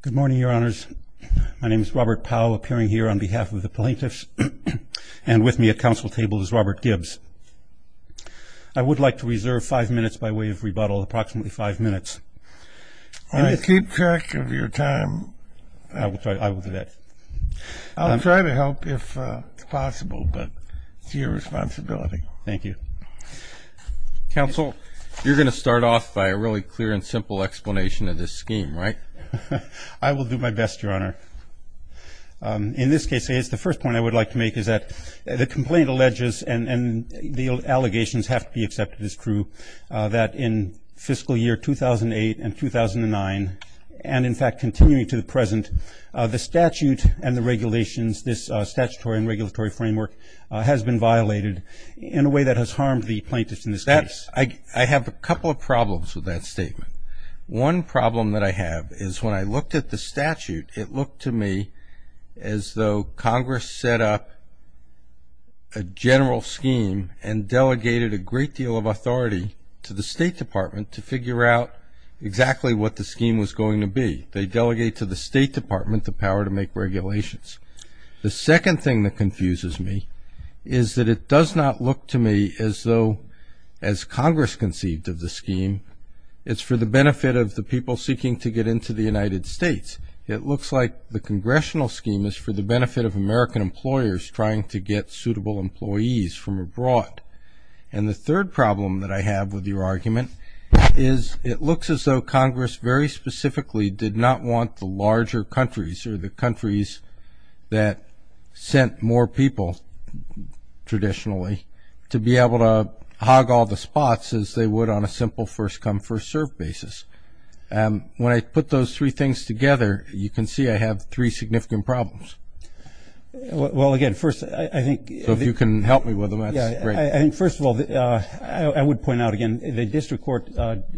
Good morning, Your Honors. My name is Robert Powell, appearing here on behalf of the plaintiffs, and with me at council table is Robert Gibbs. I would like to reserve five minutes by way of rebuttal, approximately five minutes. I'll keep track of your time. I will do that. I'll try to help if possible, but it's your responsibility. Thank you. Counsel, you're going to start off by a really clear and simple explanation of this scheme, right? I will do my best, Your Honor. In this case, the first point I would like to make is that the complaint alleges, and the allegations have to be accepted as true, that in fiscal year 2008 and 2009, and, in fact, continuing to the present, the statute and the regulations, this statutory and regulatory framework has been violated in a way that has harmed the plaintiffs in this case. I have a couple of problems with that statement. One problem that I have is when I looked at the statute, it looked to me as though Congress set up a general scheme and delegated a great deal of authority to the State Department to figure out exactly what the scheme was going to be. They delegate to the State Department the power to make regulations. The second thing that confuses me is that it does not look to me as though, as Congress conceived of the scheme, it's for the benefit of the people seeking to get into the United States. It looks like the congressional scheme is for the benefit of American employers trying to get suitable employees from abroad. And the third problem that I have with your argument is it looks as though Congress, very specifically, did not want the larger countries or the countries that sent more people, traditionally, to be able to hog all the spots as they would on a simple first-come, first-served basis. When I put those three things together, you can see I have three significant problems. Well, again, first, I think- So if you can help me with them, that's great. I think, first of all, I would point out, again, the district court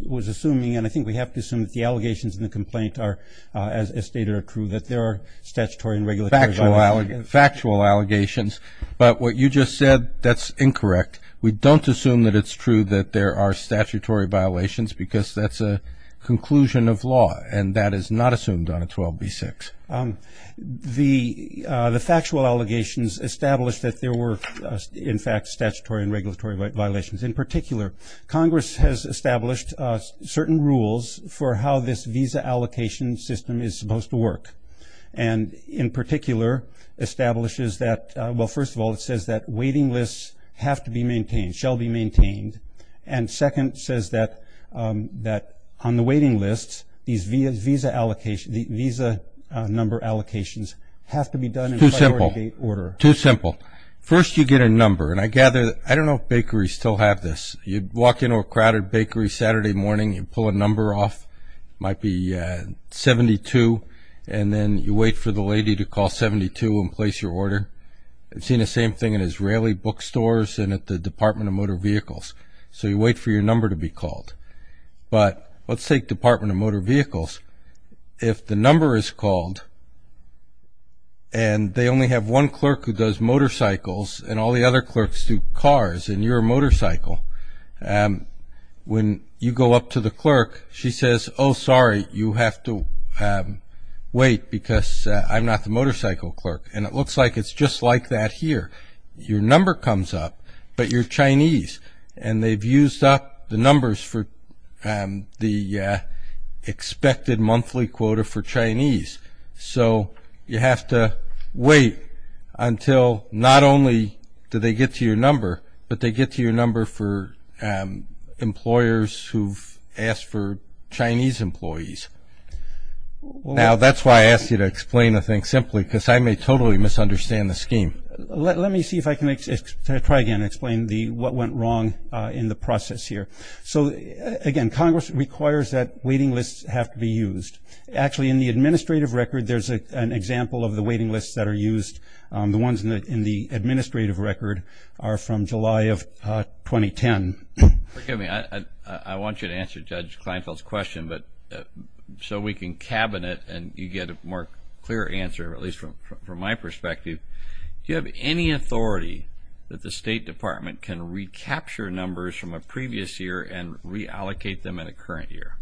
was assuming, and I think we have to assume that the allegations in the complaint are, as stated, are true, that there are statutory and regulatory violations. Factual allegations. But what you just said, that's incorrect. We don't assume that it's true that there are statutory violations because that's a conclusion of law, and that is not assumed on a 12b-6. The factual allegations established that there were, in fact, statutory and regulatory violations. In particular, Congress has established certain rules for how this visa allocation system is supposed to work, and in particular establishes that, well, first of all, it says that waiting lists have to be maintained, shall be maintained, and second, says that on the waiting lists, these visa number allocations have to be done in a priority order. Too simple. Too simple. First you get a number, and I gather, I don't know if bakeries still have this. You walk into a crowded bakery Saturday morning, you pull a number off, it might be 72, and then you wait for the lady to call 72 and place your order. I've seen the same thing in Israeli bookstores and at the Department of Motor Vehicles. So you wait for your number to be called. But let's take Department of Motor Vehicles. If the number is called and they only have one clerk who does motorcycles and all the other clerks do cars and you're a motorcycle, when you go up to the clerk, she says, oh, sorry, you have to wait because I'm not the motorcycle clerk. And it looks like it's just like that here. Your number comes up, but you're Chinese, and they've used up the numbers for the expected monthly quota for Chinese. So you have to wait until not only do they get to your number, but they get to your number for employers who've asked for Chinese employees. Now, that's why I asked you to explain the thing simply because I may totally misunderstand the scheme. Let me see if I can try again to explain what went wrong in the process here. So, again, Congress requires that waiting lists have to be used. Actually, in the administrative record, there's an example of the waiting lists that are used. The ones in the administrative record are from July of 2010. Forgive me. I want you to answer Judge Kleinfeld's question, but so we can cabinet and you get a more clear answer, at least from my perspective. Do you have any authority that the State Department can recapture numbers from a previous year and reallocate them in a current year?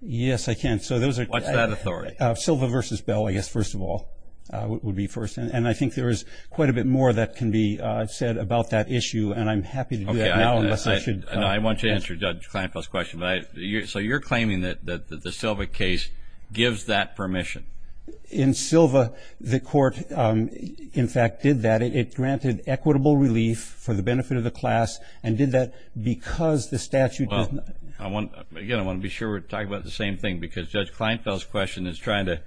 Yes, I can. What's that authority? Silva versus Bell, I guess, first of all, would be first. And I think there is quite a bit more that can be said about that issue, and I'm happy to do that now. I want you to answer Judge Kleinfeld's question. So you're claiming that the Silva case gives that permission? In Silva, the court, in fact, did that. It granted equitable relief for the benefit of the class and did that because the statute does not. Again, I want to be sure we're talking about the same thing because Judge Kleinfeld's question is trying to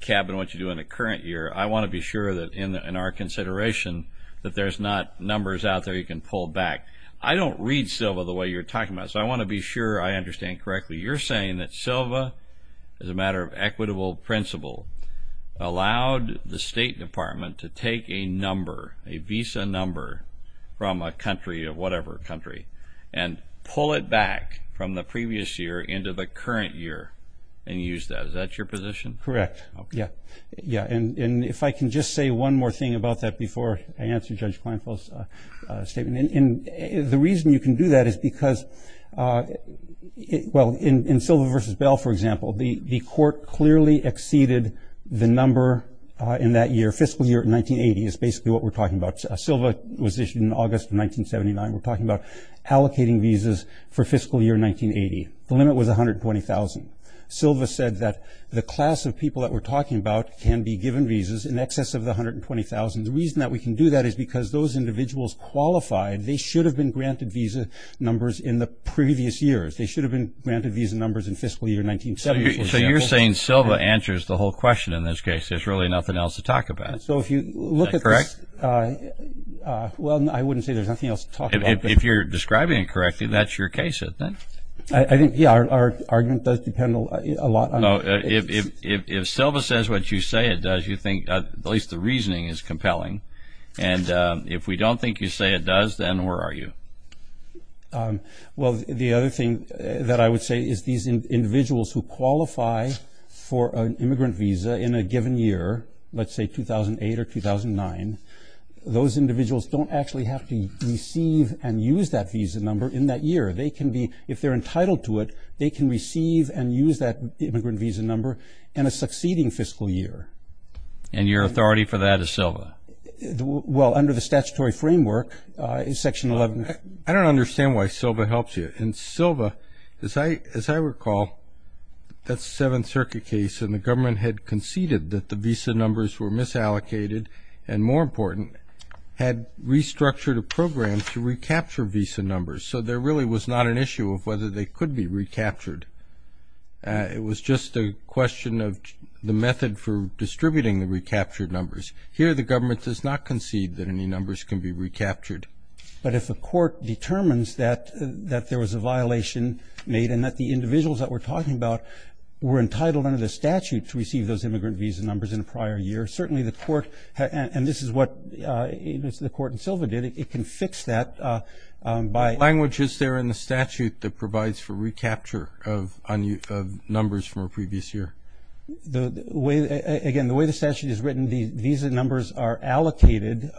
cabinet what you do in a current year. I want to be sure that in our consideration that there's not numbers out there you can pull back. I don't read Silva the way you're talking about it, so I want to be sure I understand correctly. You're saying that Silva, as a matter of equitable principle, allowed the State Department to take a number, a visa number, from a country or whatever country and pull it back from the previous year into the current year and use that. Is that your position? Correct. Okay. Yeah, and if I can just say one more thing about that before I answer Judge Kleinfeld's statement. The reason you can do that is because, well, in Silva v. Bell, for example, the court clearly exceeded the number in that year. Fiscal year 1980 is basically what we're talking about. Silva was issued in August of 1979. We're talking about allocating visas for fiscal year 1980. The limit was 120,000. Silva said that the class of people that we're talking about can be given visas in excess of the 120,000. The reason that we can do that is because those individuals qualified, they should have been granted visa numbers in the previous years. They should have been granted visa numbers in fiscal year 1970, for example. So you're saying Silva answers the whole question in this case. There's really nothing else to talk about. Is that correct? Well, I wouldn't say there's nothing else to talk about. If you're describing it correctly, that's your case, I think. I think, yeah, our argument does depend a lot on the case. If Silva says what you say it does, you think at least the reasoning is compelling. And if we don't think you say it does, then where are you? Well, the other thing that I would say is these individuals who qualify for an immigrant visa in a given year, let's say 2008 or 2009, those individuals don't actually have to receive and use that visa number in that year. They can be, if they're entitled to it, they can receive and use that immigrant visa number in a succeeding fiscal year. And your authority for that is Silva? Well, under the statutory framework, Section 11. I don't understand why Silva helps you. And Silva, as I recall, that's a Seventh Circuit case, and the government had conceded that the visa numbers were misallocated, and more important, had restructured a program to recapture visa numbers. So there really was not an issue of whether they could be recaptured. It was just a question of the method for distributing the recaptured numbers. Here the government does not concede that any numbers can be recaptured. But if a court determines that there was a violation made and that the individuals that we're talking about were entitled under the statute to receive those immigrant visa numbers in a prior year, certainly the court, and this is what the court in Silva did, it can fix that by… What language is there in the statute that provides for recapture of numbers from a previous year? Again, the way the statute is written, the visa numbers are allocated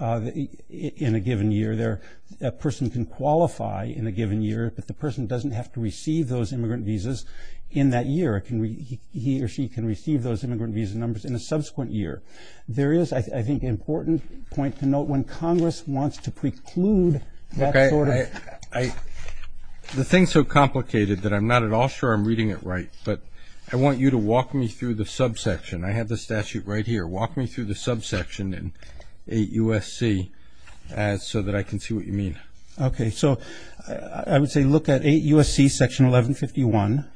in a given year. A person can qualify in a given year, but the person doesn't have to receive those immigrant visas in that year. He or she can receive those immigrant visa numbers in a subsequent year. There is, I think, an important point to note. When Congress wants to preclude that sort of… The thing is so complicated that I'm not at all sure I'm reading it right, but I want you to walk me through the subsection. I have the statute right here. Walk me through the subsection in 8 U.S.C. so that I can see what you mean. Okay, so I would say look at 8 U.S.C. section 1151.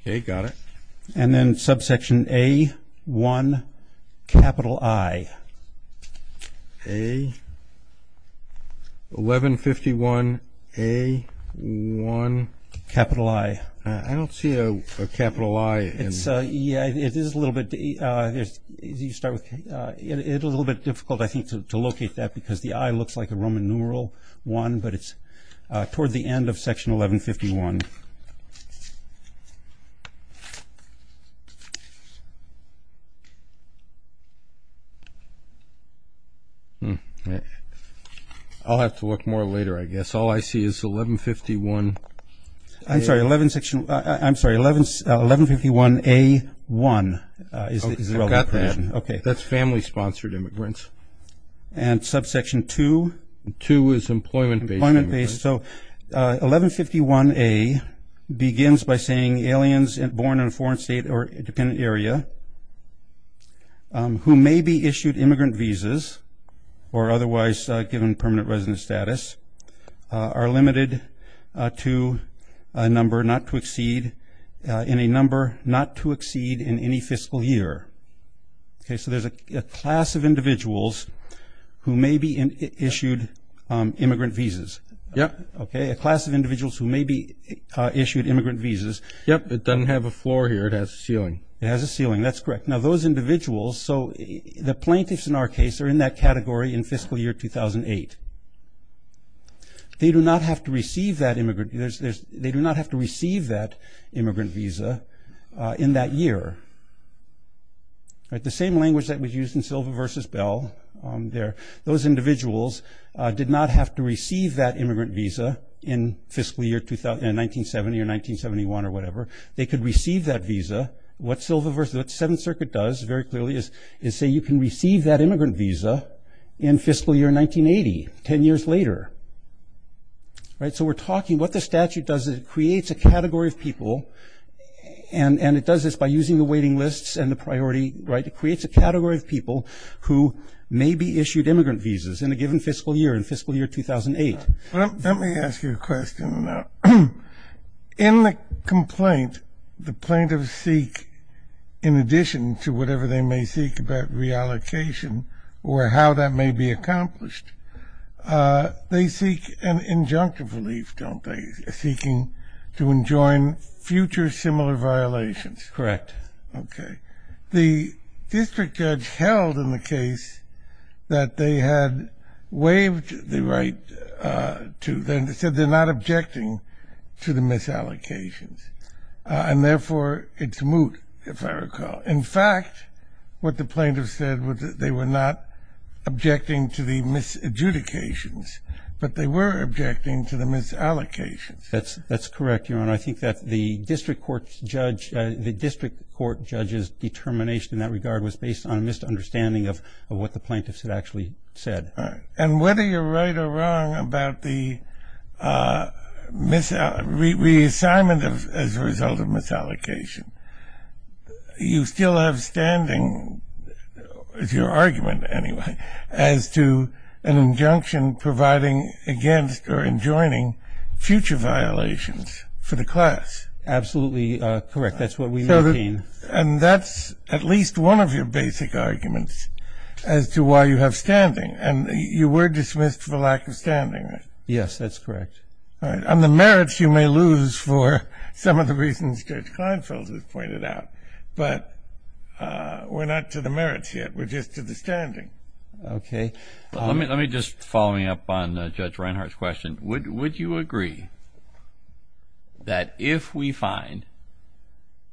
Okay, got it. And then subsection A1I. A1151A1I. I don't see a capital I. Yeah, it is a little bit difficult, I think, to locate that because the I looks like a Roman numeral one, but it's toward the end of section 1151. I'll have to look more later, I guess. All I see is 1151A1. I've got that. Okay. That's family-sponsored immigrants. And subsection 2? 2 is employment-based immigrants. Employment-based. So 1151A begins by saying aliens born in a foreign state or independent area who may be issued immigrant visas or otherwise given permanent resident status are limited to a number not to exceed in any fiscal year. Okay, so there's a class of individuals who may be issued immigrant visas. Yep. Okay, a class of individuals who may be issued immigrant visas. Yep. It doesn't have a floor here. It has a ceiling. It has a ceiling. That's correct. Now, those individuals, so the plaintiffs in our case, are in that category in fiscal year 2008. They do not have to receive that immigrant. They do not have to receive that immigrant visa in that year. All right. The same language that was used in Silva v. Bell there. Those individuals did not have to receive that immigrant visa in fiscal year 1970 or 1971 or whatever. They could receive that visa. What Silva v. 7th Circuit does very clearly is say you can receive that ten years later, right? So we're talking what the statute does is it creates a category of people and it does this by using the waiting lists and the priority, right? It creates a category of people who may be issued immigrant visas in a given fiscal year, in fiscal year 2008. Let me ask you a question on that. In the complaint, the plaintiffs seek, in addition to whatever they may seek about reallocation or how that may be accomplished, they seek an injunctive relief, don't they, seeking to enjoin future similar violations? Correct. Okay. The district judge held in the case that they had waived the right to. They said they're not objecting to the misallocations, and therefore it's moot, if I recall. In fact, what the plaintiffs said was that they were not objecting to the misadjudications, but they were objecting to the misallocations. That's correct, Your Honor. I think that the district court judge's determination in that regard was based on a misunderstanding of what the plaintiffs had actually said. And whether you're right or wrong about the reassignment as a result of misallocation, you still have standing, is your argument anyway, as to an injunction providing against or enjoining future violations for the class. Absolutely correct. That's what we maintain. And that's at least one of your basic arguments as to why you have standing. And you were dismissed for lack of standing, right? Yes, that's correct. All right. And the merits you may lose for some of the reasons Judge Kleinfeld has pointed out. But we're not to the merits yet. We're just to the standing. Okay. Let me just, following up on Judge Reinhart's question, would you agree that if we find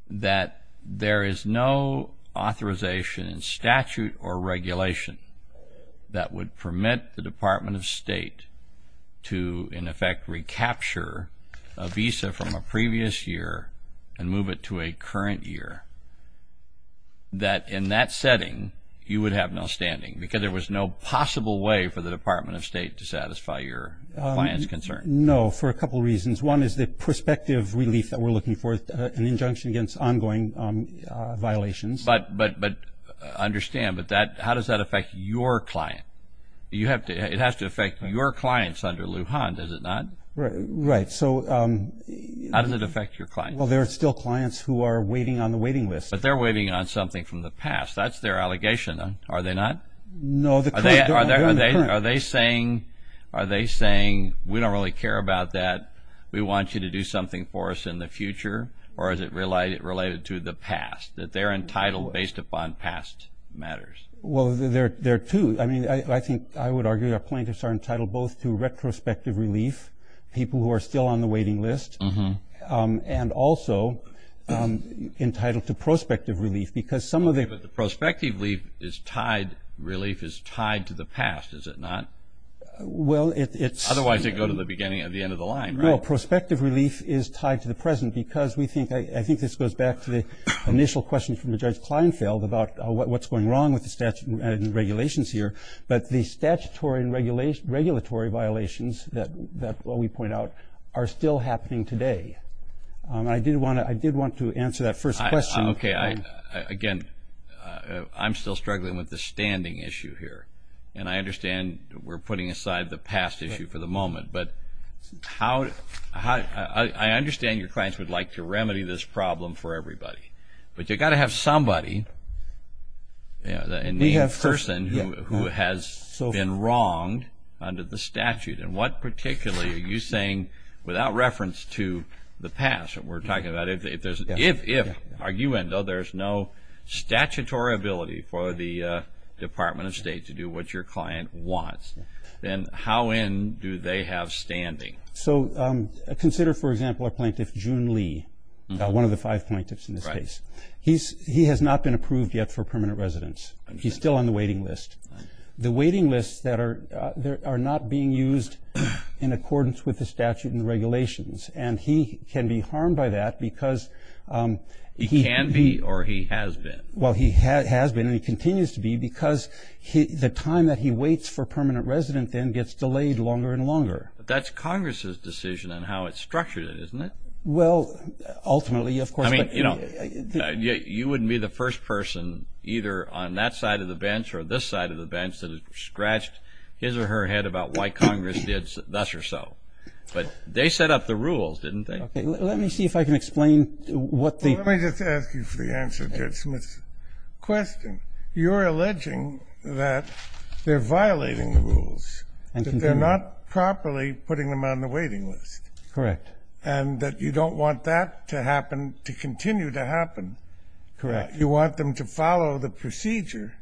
that there is no authorization in statute or regulation that would permit the Department of State to, in effect, recapture a visa from a previous year and move it to a current year, that in that setting you would have no standing because there was no possible way for the Department of State to satisfy your client's concerns? No, for a couple of reasons. One is the prospective relief that we're looking for, an injunction against ongoing violations. But understand, how does that affect your client? It has to affect your clients under Lujan, does it not? Right. How does it affect your clients? Well, there are still clients who are waiting on the waiting list. But they're waiting on something from the past. That's their allegation. Are they not? No. Are they saying, we don't really care about that, we want you to do something for us in the future, or is it related to the past, that they're entitled based upon past matters? Well, there are two. I mean, I think I would argue our plaintiffs are entitled both to retrospective relief, people who are still on the waiting list, and also entitled to prospective relief. But the prospective relief is tied to the past, is it not? Well, it's – Otherwise, they go to the beginning of the end of the line, right? Well, prospective relief is tied to the present because we think – I think this goes back to the initial question from Judge Kleinfeld about what's going wrong with the regulations here. But the statutory and regulatory violations that we point out are still happening today. I did want to answer that first question. Okay. Again, I'm still struggling with the standing issue here, and I understand we're putting aside the past issue for the moment. But how – I understand your clients would like to remedy this problem for everybody, but you've got to have somebody, a named person, who has been wronged under the statute. And what particularly are you saying without reference to the past that we're talking about? If, are you in, though there's no statutory ability for the Department of State to do what your client wants, then how in do they have standing? So consider, for example, a plaintiff, June Lee, one of the five plaintiffs in this case. He has not been approved yet for permanent residence. He's still on the waiting list. The waiting lists that are – are not being used in accordance with the statute and the regulations. And he can be harmed by that because he – He can be or he has been. Well, he has been and he continues to be because the time that he waits for permanent residence then gets delayed longer and longer. But that's Congress's decision on how it's structured, isn't it? Well, ultimately, of course, but – I mean, you know, you wouldn't be the first person either on that side of the bench or this side of the bench that has scratched his or her head about why Congress did thus or so. But they set up the rules, didn't they? Okay. Let me see if I can explain what the – Let me just ask you for the answer, Judge Smith. Question. You're alleging that they're violating the rules, that they're not properly putting them on the waiting list. Correct. And that you don't want that to happen – to continue to happen. Correct. You want them to follow the procedure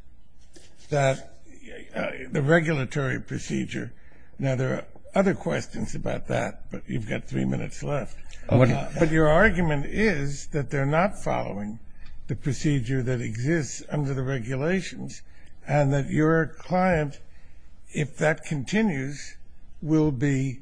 that – the regulatory procedure. Now, there are other questions about that, but you've got three minutes left. Okay. But your argument is that they're not following the procedure that exists under the regulations and that your client, if that continues, will be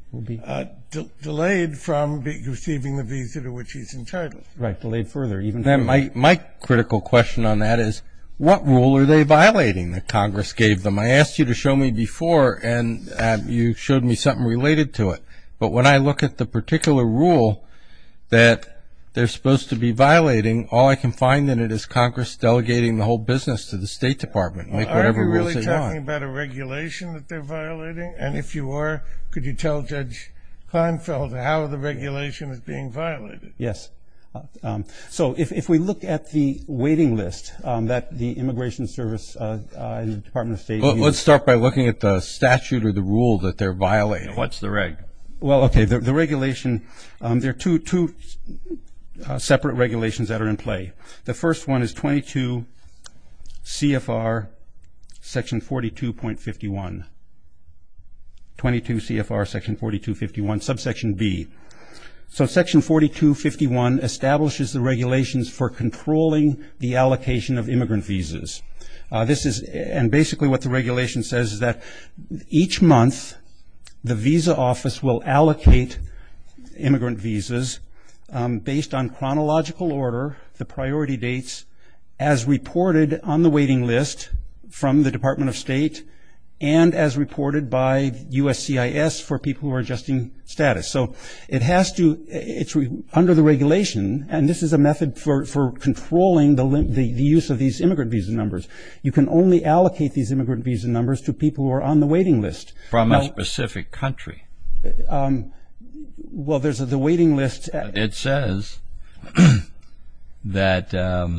delayed from receiving the visa to which he's entitled. Right. Delayed further, even further. My critical question on that is what rule are they violating that Congress gave them? I asked you to show me before, and you showed me something related to it. But when I look at the particular rule that they're supposed to be violating, all I can find in it is Congress delegating the whole business to the State Department, make whatever rules they want. Are you really talking about a regulation that they're violating? And if you are, could you tell Judge Klinefeld how the regulation is being violated? Yes. So if we look at the waiting list that the Immigration Service and the Department of State use. Let's start by looking at the statute or the rule that they're violating. What's the regulation? Well, okay, the regulation, there are two separate regulations that are in play. The first one is 22 CFR section 42.51, 22 CFR section 42.51, subsection B. So section 42.51 establishes the regulations for controlling the allocation of immigrant visas. And basically what the regulation says is that each month the visa office will allocate immigrant visas based on chronological order, the priority dates, as reported on the waiting list from the Department of State and as reported by USCIS for people who are adjusting status. So it has to, it's under the regulation, and this is a method for controlling the use of these immigrant visa numbers. You can only allocate these immigrant visa numbers to people who are on the waiting list. From a specific country? Well, there's the waiting list. It says that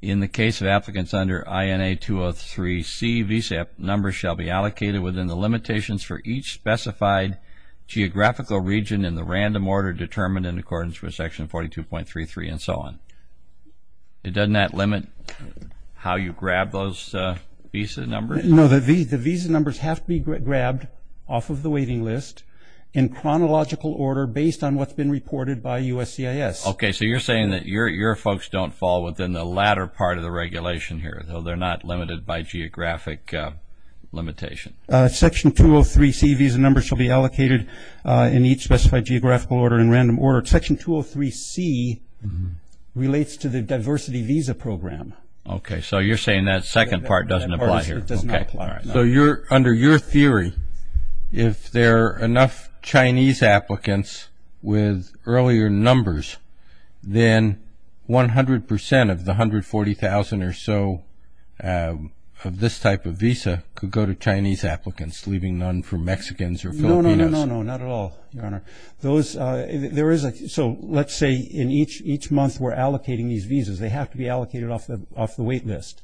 in the case of applicants under INA 203C, the immigrant visa numbers shall be allocated within the limitations for each specified geographical region in the random order determined in accordance with section 42.33 and so on. Doesn't that limit how you grab those visa numbers? No, the visa numbers have to be grabbed off of the waiting list in chronological order based on what's been reported by USCIS. Okay, so you're saying that your folks don't fall within the latter part of the regulation here, so they're not limited by geographic limitation. Section 203C visa numbers shall be allocated in each specified geographical order in random order. Section 203C relates to the diversity visa program. Okay, so you're saying that second part doesn't apply here. So under your theory, if there are enough Chinese applicants with earlier numbers, then 100% of the 140,000 or so of this type of visa could go to Chinese applicants, leaving none for Mexicans or Filipinos. No, no, no, not at all, Your Honor. So let's say in each month we're allocating these visas. They have to be allocated off the wait list.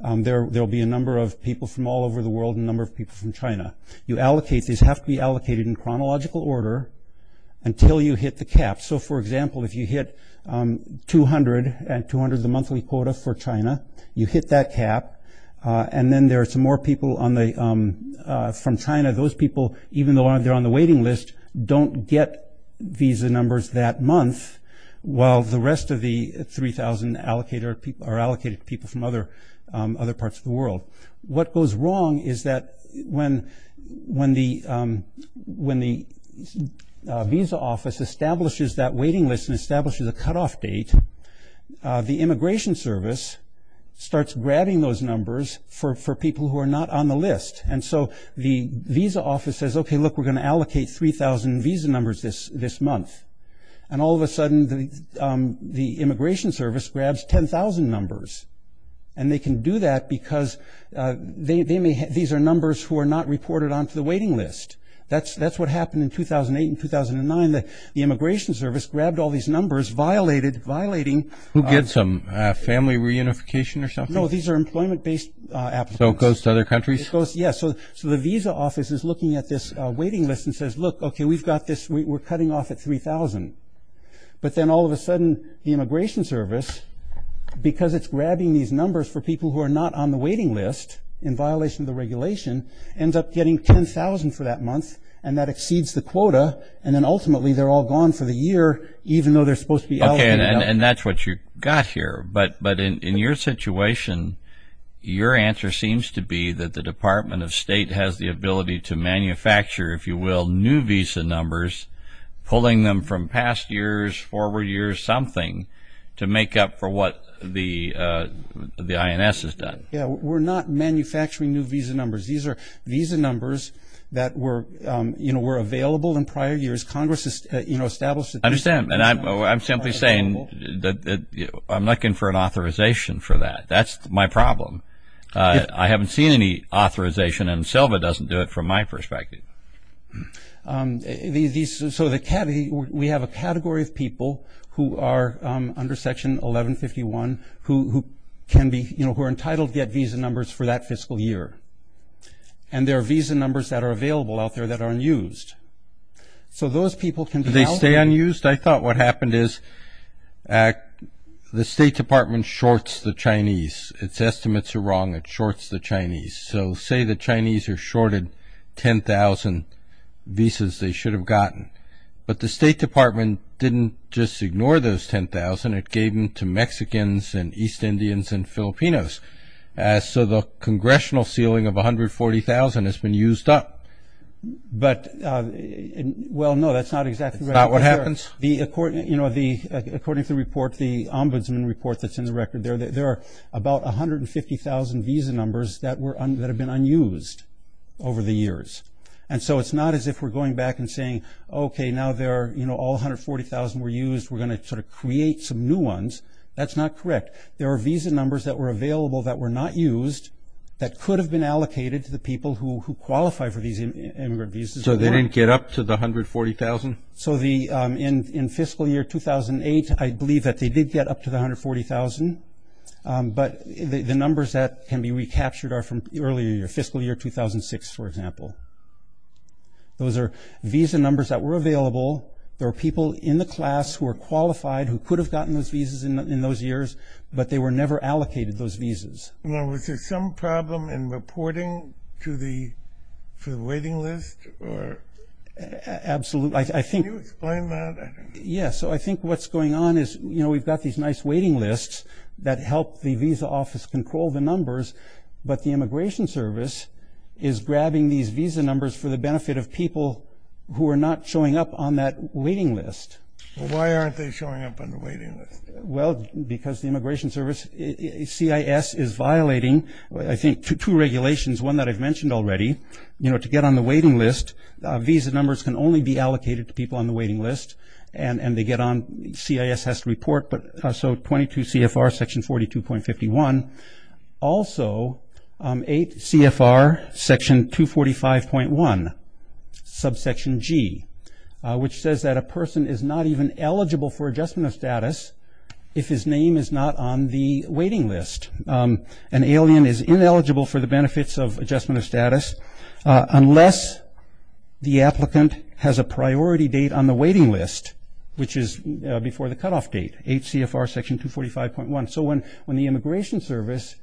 There will be a number of people from all over the world and a number of people from China. These have to be allocated in chronological order until you hit the cap. So, for example, if you hit 200, and 200 is the monthly quota for China, you hit that cap, and then there are some more people from China. Those people, even though they're on the waiting list, don't get visa numbers that month, while the rest of the 3,000 are allocated to people from other parts of the world. So what goes wrong is that when the visa office establishes that waiting list and establishes a cutoff date, the Immigration Service starts grabbing those numbers for people who are not on the list. And so the visa office says, okay, look, we're going to allocate 3,000 visa numbers this month. And all of a sudden the Immigration Service grabs 10,000 numbers. And they can do that because these are numbers who are not reported onto the waiting list. That's what happened in 2008 and 2009. The Immigration Service grabbed all these numbers, violating. Who gets them? Family reunification or something? No, these are employment-based applications. So it goes to other countries? Yes. So the visa office is looking at this waiting list and says, look, okay, we've got this. We're cutting off at 3,000. But then all of a sudden the Immigration Service, because it's grabbing these numbers for people who are not on the waiting list in violation of the regulation, ends up getting 10,000 for that month. And that exceeds the quota. And then ultimately they're all gone for the year, even though they're supposed to be allocated. Okay, and that's what you've got here. But in your situation, your answer seems to be that the Department of State has the ability to manufacture, if you will, new visa numbers, pulling them from past years, forward years, something to make up for what the INS has done. Yes, we're not manufacturing new visa numbers. These are visa numbers that were available in prior years. Congress has established that these numbers are available. I understand. And I'm simply saying that I'm looking for an authorization for that. That's my problem. I haven't seen any authorization, and SILVA doesn't do it from my perspective. So we have a category of people who are under Section 1151 who can be, you know, who are entitled to get visa numbers for that fiscal year. And there are visa numbers that are available out there that are unused. Do they stay unused? I thought what happened is the State Department shorts the Chinese. Its estimates are wrong. It shorts the Chinese. So say the Chinese are shorted 10,000 visas they should have gotten. But the State Department didn't just ignore those 10,000. It gave them to Mexicans and East Indians and Filipinos. So the congressional ceiling of 140,000 has been used up. But, well, no, that's not exactly right. It's not what happens? You know, according to the report, the ombudsman report that's in the record, there are about 150,000 visa numbers that have been unused over the years. And so it's not as if we're going back and saying, okay, now there are, you know, all 140,000 were used, we're going to sort of create some new ones. That's not correct. There are visa numbers that were available that were not used that could have been allocated to the people who qualify for these immigrant visas. So they didn't get up to the 140,000? So in fiscal year 2008, I believe that they did get up to the 140,000. But the numbers that can be recaptured are from the earlier year, fiscal year 2006, for example. Those are visa numbers that were available. There were people in the class who were qualified, who could have gotten those visas in those years, but they were never allocated those visas. Now, was there some problem in reporting to the waiting list? Absolutely. Can you explain that? Yes, so I think what's going on is, you know, we've got these nice waiting lists that help the visa office control the numbers, but the Immigration Service is grabbing these visa numbers for the benefit of people who are not showing up on that waiting list. Why aren't they showing up on the waiting list? Well, because the Immigration Service, CIS, is violating, I think, two regulations, one that I've mentioned already. You know, to get on the waiting list, visa numbers can only be allocated to people on the waiting list, and they get on, CIS has to report, so 22 CFR section 42.51. Also, 8 CFR section 245.1, subsection G, which says that a person is not even eligible for adjustment of status if his name is not on the waiting list. An alien is ineligible for the benefits of adjustment of status unless the applicant has a priority date on the waiting list, which is before the cutoff date, 8 CFR section 245.1. So when the Immigration Service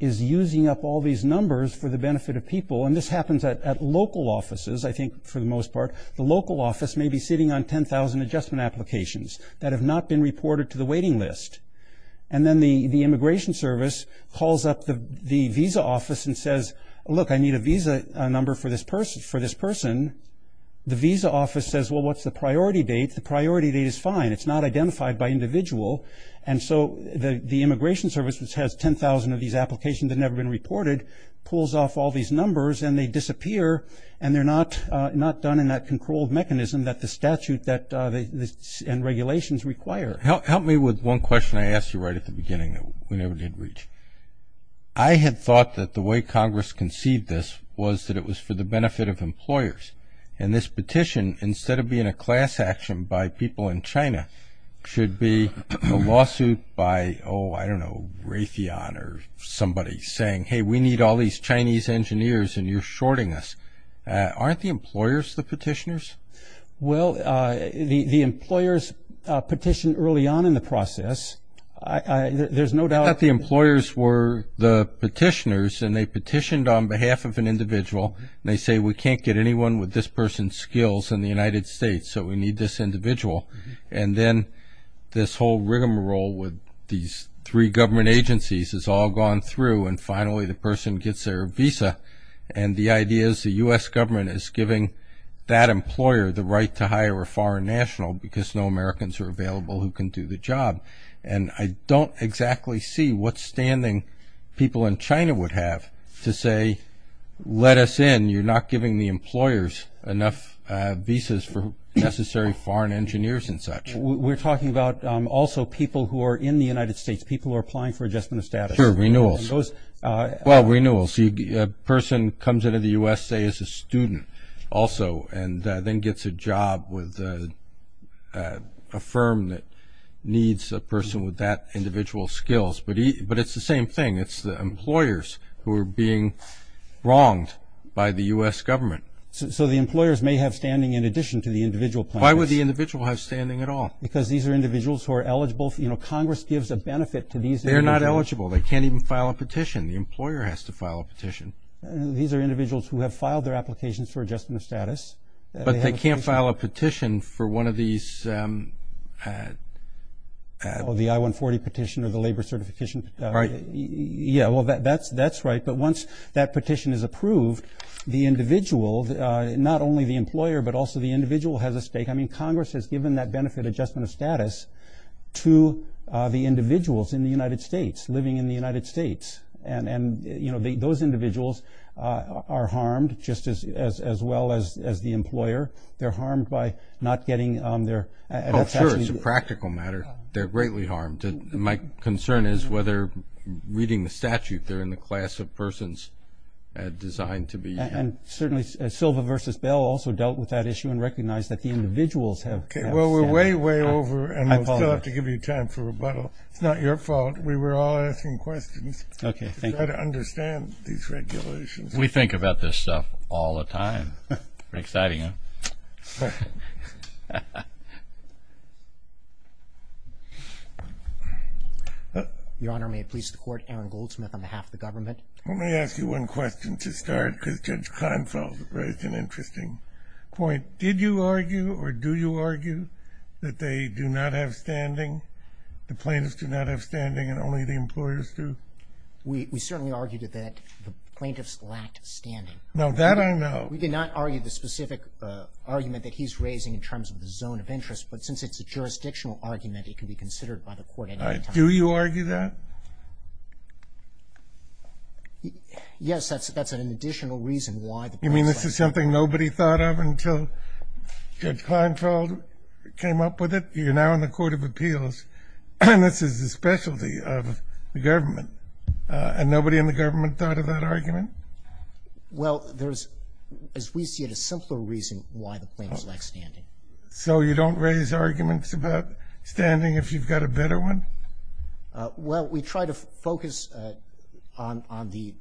is using up all these numbers for the benefit of people, and this happens at local offices, I think, for the most part, the local office may be sitting on 10,000 adjustment applications that have not been reported to the waiting list. And then the Immigration Service calls up the visa office and says, look, I need a visa number for this person. The visa office says, well, what's the priority date? The priority date is fine. It's not identified by individual. And so the Immigration Service, which has 10,000 of these applications that have never been reported, pulls off all these numbers, and they disappear, and they're not done in that controlled mechanism that the statute and regulations require. Sir, help me with one question I asked you right at the beginning. We never did reach. I had thought that the way Congress conceived this was that it was for the benefit of employers. And this petition, instead of being a class action by people in China, should be a lawsuit by, oh, I don't know, Raytheon or somebody saying, hey, we need all these Chinese engineers, and you're shorting us. Aren't the employers the petitioners? Well, the employers petitioned early on in the process. There's no doubt. I thought the employers were the petitioners, and they petitioned on behalf of an individual, and they say, we can't get anyone with this person's skills in the United States, so we need this individual. And then this whole rigmarole with these three government agencies has all gone through, and finally the person gets their visa. And the idea is the U.S. government is giving that employer the right to hire a foreign national because no Americans are available who can do the job. And I don't exactly see what standing people in China would have to say, let us in, you're not giving the employers enough visas for necessary foreign engineers and such. We're talking about also people who are in the United States, people who are applying for adjustment of status. Sure, renewals. Well, renewals. A person comes into the U.S., say, as a student also, and then gets a job with a firm that needs a person with that individual skills. But it's the same thing. It's the employers who are being wronged by the U.S. government. So the employers may have standing in addition to the individual plaintiffs. Why would the individual have standing at all? Because these are individuals who are eligible. Congress gives a benefit to these individuals. They're not eligible. They can't even file a petition. The employer has to file a petition. These are individuals who have filed their applications for adjustment of status. But they can't file a petition for one of these. Oh, the I-140 petition or the labor certification. Right. Yeah, well, that's right. But once that petition is approved, the individual, not only the employer, but also the individual has a stake. I mean, Congress has given that benefit, adjustment of status, to the individuals in the United States, living in the United States. And, you know, those individuals are harmed just as well as the employer. They're harmed by not getting their – Oh, sure, it's a practical matter. They're greatly harmed. My concern is whether, reading the statute, they're in the class of persons designed to be – And certainly Silva v. Bell also dealt with that issue and recognized that the individuals have – Okay, well, we're way, way over. I apologize. And we'll still have to give you time for rebuttal. It's not your fault. We were all asking questions. Okay, thank you. We've got to understand these regulations. We think about this stuff all the time. Pretty exciting, huh? Your Honor, may it please the Court, Aaron Goldsmith on behalf of the government. Let me ask you one question to start because Judge Kleinfeld raised an interesting point. Did you argue or do you argue that they do not have standing, the plaintiffs do not have standing and only the employers do? We certainly argued that the plaintiffs lacked standing. Now, that I know. We did not argue the specific argument that he's raising in terms of the zone of interest, but since it's a jurisdictional argument, it can be considered by the Court at any time. Do you argue that? Yes, that's an additional reason why the plaintiffs lack standing. You mean this is something nobody thought of until Judge Kleinfeld came up with it? You're now in the Court of Appeals. This is the specialty of the government and nobody in the government thought of that argument? Well, there's, as we see it, a simpler reason why the plaintiffs lack standing. So you don't raise arguments about standing if you've got a better one? Well, we try to focus on the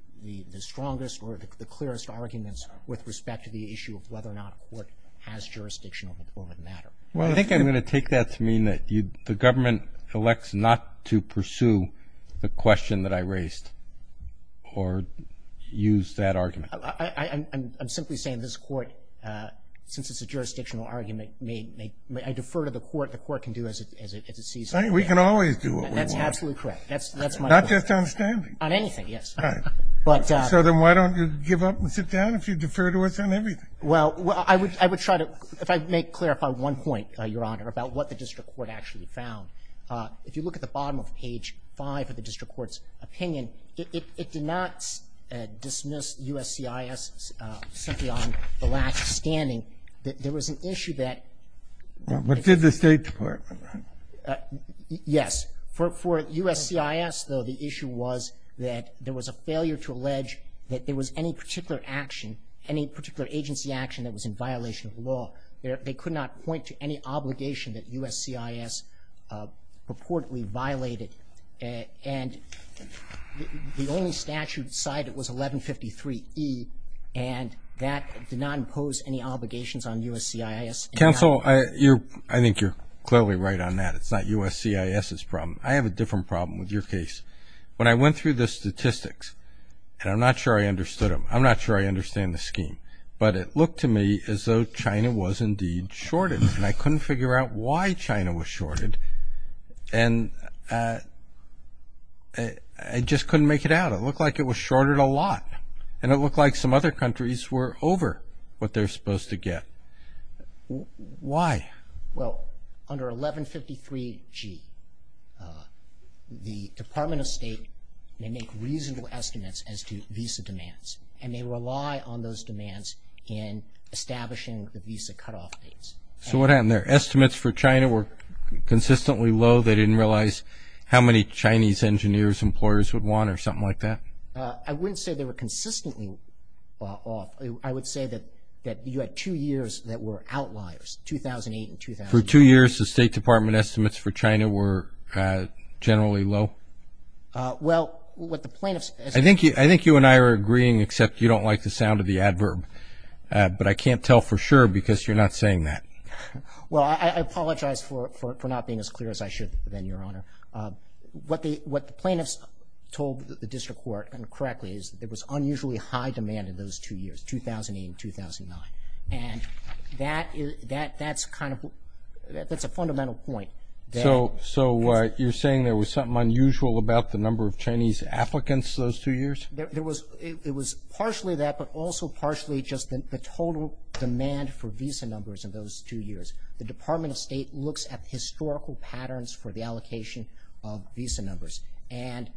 strongest or the clearest arguments with respect to the issue of whether or not a court has jurisdiction over the matter. Well, I think I'm going to take that to mean that the government elects not to pursue the question that I raised or use that argument. I'm simply saying this Court, since it's a jurisdictional argument, I defer to the Court. The Court can do as it sees fit. We can always do what we want. That's absolutely correct. That's my point. Not just on standing. On anything, yes. All right. So then why don't you give up and sit down if you defer to us on everything? Well, I would try to – if I may clarify one point, Your Honor, about what the district court actually found. If you look at the bottom of page 5 of the district court's opinion, it did not dismiss USCIS simply on the lack of standing. There was an issue that – But did the State Department, right? Yes. For USCIS, though, the issue was that there was a failure to allege that there was any particular action, any particular agency action that was in violation of the law. They could not point to any obligation that USCIS purportedly violated. And the only statute cited was 1153E, and that did not impose any obligations on USCIS. Counsel, I think you're clearly right on that. It's not USCIS's problem. I have a different problem with your case. When I went through the statistics, and I'm not sure I understood them, I'm not sure I understand the scheme, but it looked to me as though China was indeed shorted, and I couldn't figure out why China was shorted, and I just couldn't make it out. It looked like it was shorted a lot, and it looked like some other countries were over what they're supposed to get. Why? Well, under 1153G, the Department of State may make reasonable estimates as to visa demands, and they rely on those demands in establishing the visa cutoff dates. So what happened there? Estimates for China were consistently low. They didn't realize how many Chinese engineers, employers would want, or something like that? I wouldn't say they were consistently off. I would say that you had two years that were outliers, 2008 and 2009. For two years, the State Department estimates for China were generally low? Well, what the plaintiffs as— I think you and I are agreeing, except you don't like the sound of the adverb, but I can't tell for sure because you're not saying that. Well, I apologize for not being as clear as I should have been, Your Honor. What the plaintiffs told the district court, and correctly, is there was unusually high demand in those two years, 2008 and 2009. And that's a fundamental point. So you're saying there was something unusual about the number of Chinese applicants those two years? It was partially that, but also partially just the total demand for visa numbers in those two years. The Department of State looks at historical patterns for the allocation of visa numbers, and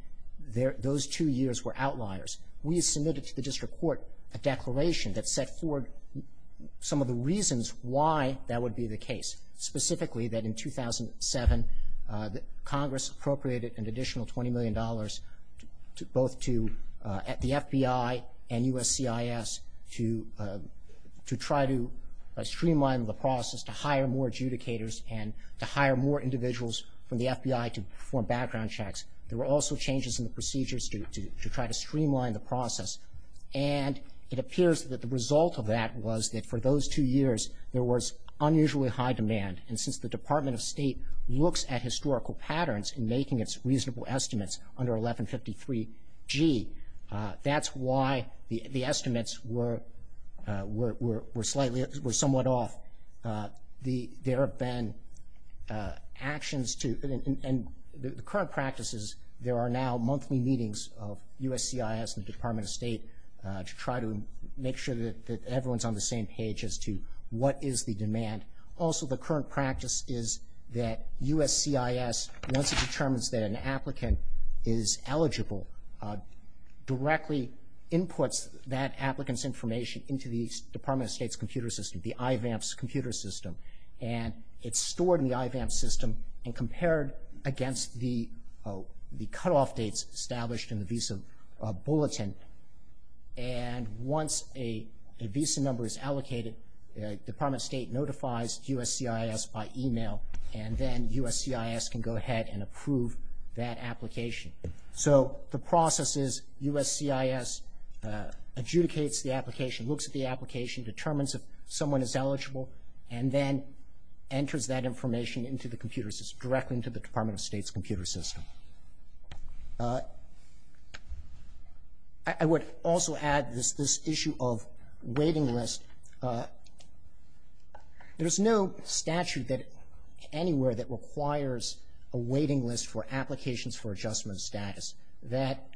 those two years were outliers. We submitted to the district court a declaration that set forward some of the reasons why that would be the case, specifically that in 2007, Congress appropriated an additional $20 million, both to the FBI and USCIS, to try to streamline the process, to hire more adjudicators and to hire more individuals from the FBI to perform background checks. There were also changes in the procedures to try to streamline the process. And it appears that the result of that was that for those two years, there was unusually high demand. And since the Department of State looks at historical patterns in making its reasonable estimates under 1153G, that's why the estimates were somewhat off. There have been actions to – and the current practice is there are now monthly meetings of USCIS and the Department of State to try to make sure that everyone's on the same page as to what is the demand. Also, the current practice is that USCIS, once it determines that an applicant is eligible, directly inputs that applicant's information into the Department of State's computer system, the IVAMS computer system, and it's stored in the IVAMS system and compared against the cutoff dates established in the visa bulletin. And once a visa number is allocated, the Department of State notifies USCIS by email and then USCIS can go ahead and approve that application. So the process is USCIS adjudicates the application, looks at the application, determines if someone is eligible, and then enters that information into the computer system, directly into the Department of State's computer system. I would also add this issue of waiting list. There's no statute anywhere that requires a waiting list for applications for adjustment status. That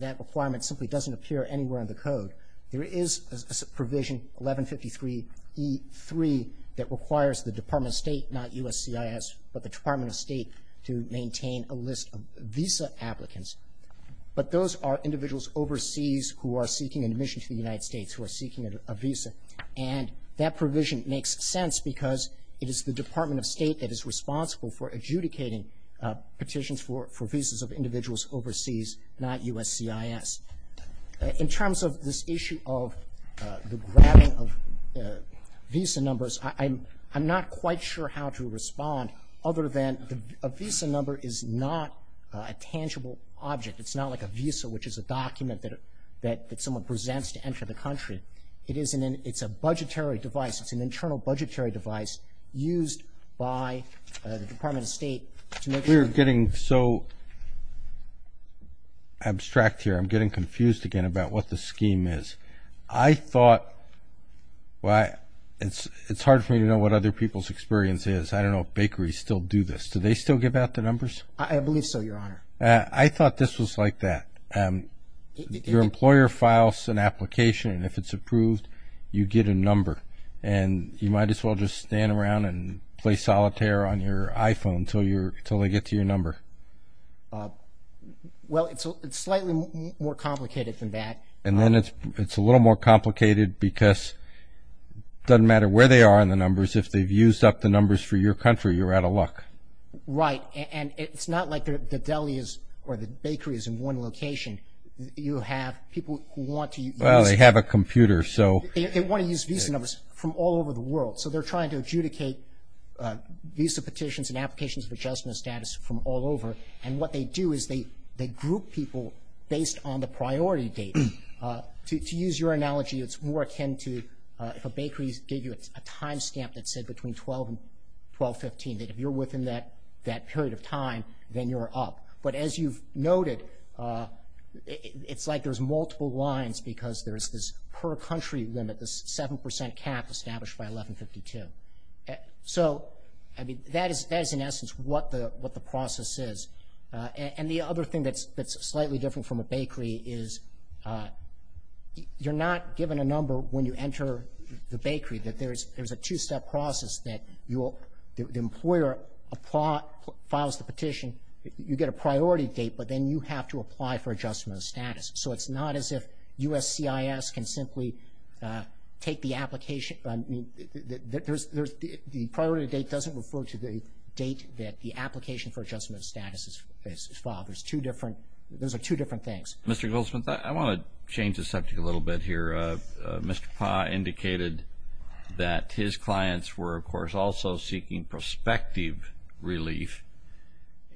requirement simply doesn't appear anywhere in the code. There is a provision, 1153E3, that requires the Department of State, not USCIS, but the Department of State to maintain a list of visa applicants. But those are individuals overseas who are seeking admission to the United States, who are seeking a visa. And that provision makes sense because it is the Department of State that is responsible for adjudicating petitions for visas of individuals overseas, not USCIS. In terms of this issue of the grabbing of visa numbers, I'm not quite sure how to respond other than a visa number is not a tangible object. It's not like a visa, which is a document that someone presents to enter the country. It's a budgetary device. It's an internal budgetary device used by the Department of State to make sure that the person who is about what the scheme is. I thought, well, it's hard for me to know what other people's experience is. I don't know if bakeries still do this. Do they still give out the numbers? I believe so, Your Honor. I thought this was like that. Your employer files an application, and if it's approved, you get a number. And you might as well just stand around and play solitaire on your iPhone until they get to your number. Well, it's slightly more complicated than that. And then it's a little more complicated because it doesn't matter where they are in the numbers. If they've used up the numbers for your country, you're out of luck. Right. And it's not like the deli is or the bakery is in one location. You have people who want to use it. Well, they have a computer, so. They want to use visa numbers from all over the world. So they're trying to adjudicate visa petitions and applications of adjustment status from all over. And what they do is they group people based on the priority date. To use your analogy, it's more akin to if a bakery gave you a time stamp that said between 12 and 12-15, that if you're within that period of time, then you're up. But as you've noted, it's like there's multiple lines because there's this per country limit, this 7 percent cap established by 1152. So, I mean, that is in essence what the process is. And the other thing that's slightly different from a bakery is you're not given a number when you enter the bakery, that there's a two-step process that the employer files the petition, you get a priority date, but then you have to apply for adjustment of status. So it's not as if USCIS can simply take the application. The priority date doesn't refer to the date that the application for adjustment of status is filed. Those are two different things. Mr. Goldsmith, I want to change the subject a little bit here. Mr. Pah indicated that his clients were, of course, also seeking prospective relief.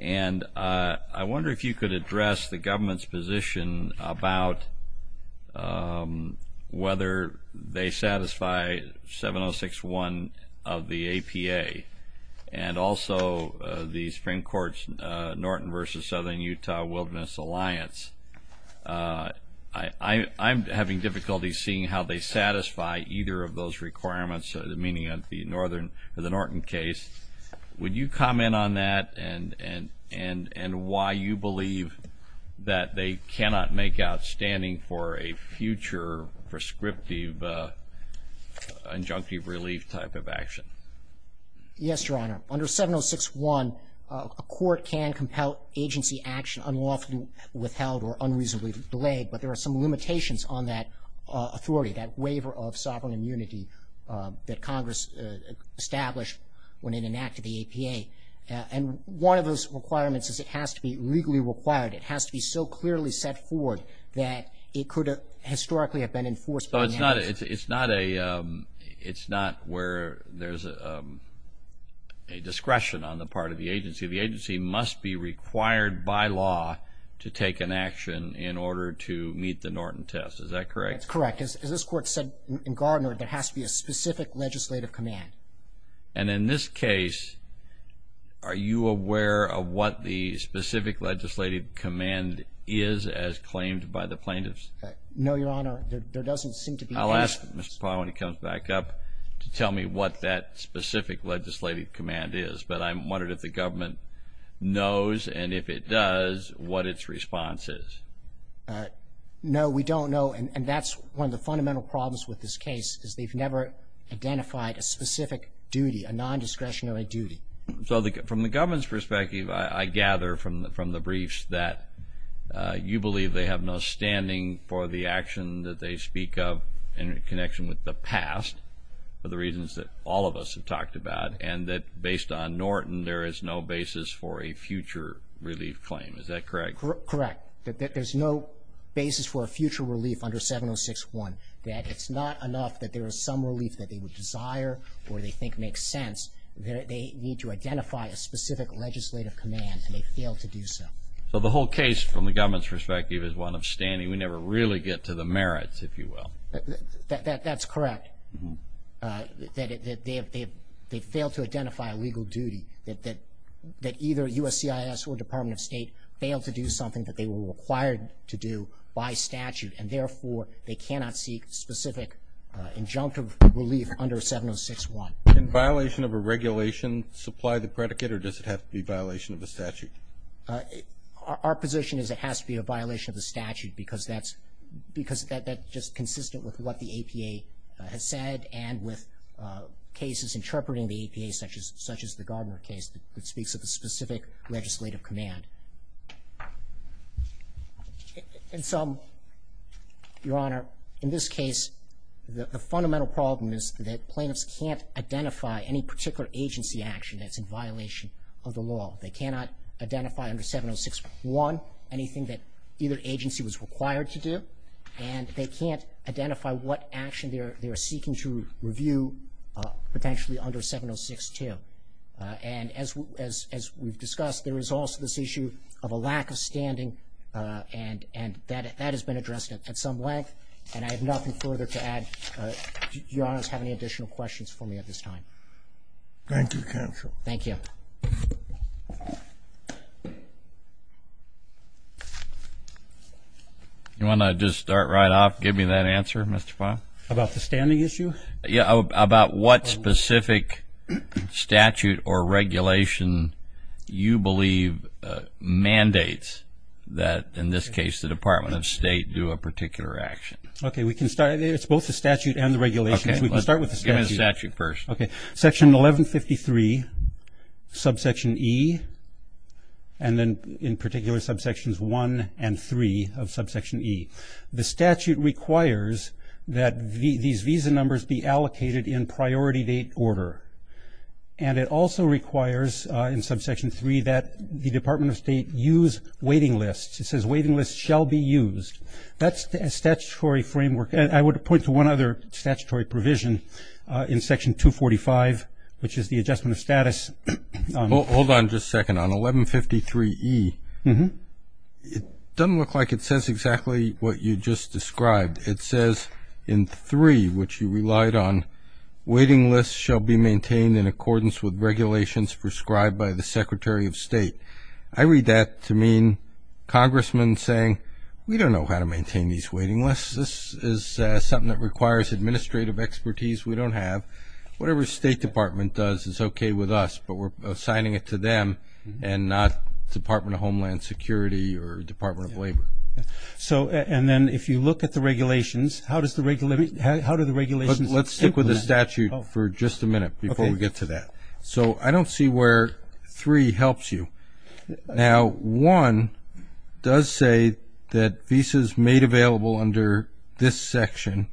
And I wonder if you could address the government's position about whether they satisfy 706-1 of the APA and also the Supreme Court's Norton v. Southern Utah Wilderness Alliance. I'm having difficulty seeing how they satisfy either of those requirements, meaning the Norton case. Would you comment on that and why you believe that they cannot make outstanding for a future prescriptive injunctive relief type of action? Yes, Your Honor. Under 706-1, a court can compel agency action unlawfully withheld or unreasonably delayed, but there are some limitations on that authority, that waiver of sovereign immunity, that Congress established when it enacted the APA. And one of those requirements is it has to be legally required. It has to be so clearly set forward that it could historically have been enforced by now. But it's not where there's a discretion on the part of the agency. The agency must be required by law to take an action in order to meet the Norton test. Is that correct? That's correct. As this Court said in Gardner, there has to be a specific legislative command. And in this case, are you aware of what the specific legislative command is as claimed by the plaintiffs? No, Your Honor. There doesn't seem to be any of those. I'll ask Mr. Powell when he comes back up to tell me what that specific legislative command is, but I'm wondering if the government knows and if it does, what its response is. No, we don't know. And that's one of the fundamental problems with this case is they've never identified a specific duty, a nondiscretionary duty. So from the government's perspective, I gather from the briefs that you believe they have no standing for the action that they speak of in connection with the past for the reasons that all of us have talked about and that based on Norton, there is no basis for a future relief claim. Is that correct? Correct. There's no basis for a future relief under 706-1. It's not enough that there is some relief that they would desire or they think makes sense. They need to identify a specific legislative command, and they failed to do so. So the whole case, from the government's perspective, is one of standing. We never really get to the merits, if you will. That's correct. that they were required to do by statute, and, therefore, they cannot seek specific injunctive relief under 706-1. Can violation of a regulation supply the predicate, or does it have to be a violation of the statute? Our position is it has to be a violation of the statute because that's just consistent with what the APA has said and with cases interpreting the APA, such as the Gardner case, that speaks of a specific legislative command. And so, Your Honor, in this case, the fundamental problem is that plaintiffs can't identify any particular agency action that's in violation of the law. They cannot identify under 706-1 anything that either agency was required to do, and they can't identify what action they are seeking to review potentially under 706-2. And as we've discussed, there is also this issue of a lack of standing, and that has been addressed at some length, and I have nothing further to add. Do Your Honors have any additional questions for me at this time? Thank you, counsel. Thank you. You want to just start right off, give me that answer, Mr. Fahl? About the standing issue? Yeah, about what specific statute or regulation you believe mandates that, in this case, the Department of State do a particular action. Okay, we can start. It's both the statute and the regulations. We can start with the statute. Give me the statute first. Okay, Section 1153, subsection E, and then in particular subsections 1 and 3 of subsection E. The statute requires that these visa numbers be allocated in priority date order, and it also requires in subsection 3 that the Department of State use waiting lists. It says waiting lists shall be used. That's a statutory framework. I would point to one other statutory provision in Section 245, which is the adjustment of status. Hold on just a second. On 1153E, it doesn't look like it says exactly what you just described. It says in 3, which you relied on, waiting lists shall be maintained in accordance with regulations prescribed by the Secretary of State. I read that to mean congressmen saying, we don't know how to maintain these waiting lists. This is something that requires administrative expertise we don't have. Whatever State Department does is okay with us, but we're assigning it to them and not Department of Homeland Security or Department of Labor. And then if you look at the regulations, how do the regulations implement that? Let's stick with the statute for just a minute before we get to that. So I don't see where 3 helps you. Now, 1 does say that visas made available under this section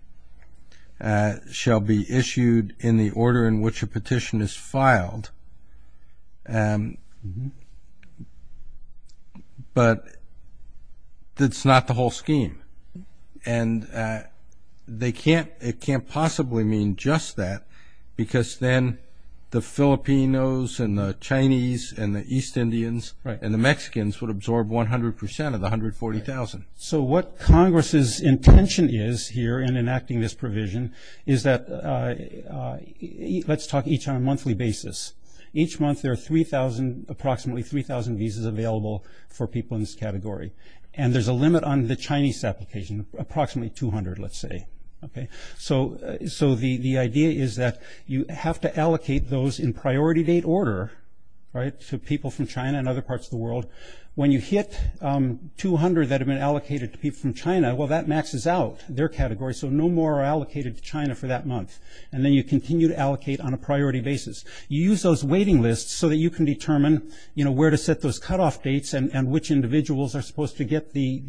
shall be issued in the order in which a petition is filed, but that's not the whole scheme. And it can't possibly mean just that, because then the Filipinos and the Chinese and the East Indians and the Mexicans would absorb 100% of the 140,000. So what Congress's intention is here in enacting this provision is that, let's talk each on a monthly basis. Each month there are approximately 3,000 visas available for people in this category. And there's a limit on the Chinese application, approximately 200, let's say. So the idea is that you have to allocate those in priority date order to people from China and other parts of the world. When you hit 200 that have been allocated to people from China, well, that maxes out their category, so no more are allocated to China for that month. And then you continue to allocate on a priority basis. You use those waiting lists so that you can determine where to set those cutoff dates and which individuals are supposed to get the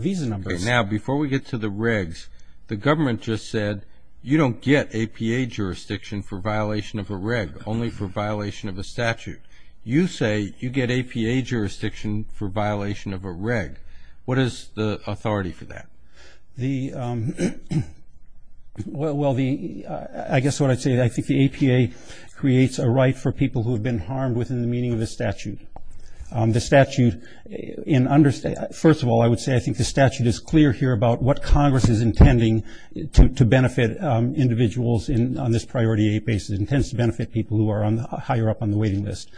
visa numbers. Now, before we get to the regs, the government just said, you don't get APA jurisdiction for violation of a reg, only for violation of a statute. You say you get APA jurisdiction for violation of a reg. What is the authority for that? Well, I guess what I'd say, I think the APA creates a right for people who have been harmed within the meaning of the statute. The statute, first of all, I would say I think the statute is clear here about what Congress is intending to benefit individuals on this priority date basis. It intends to benefit people who are higher up on the waiting list.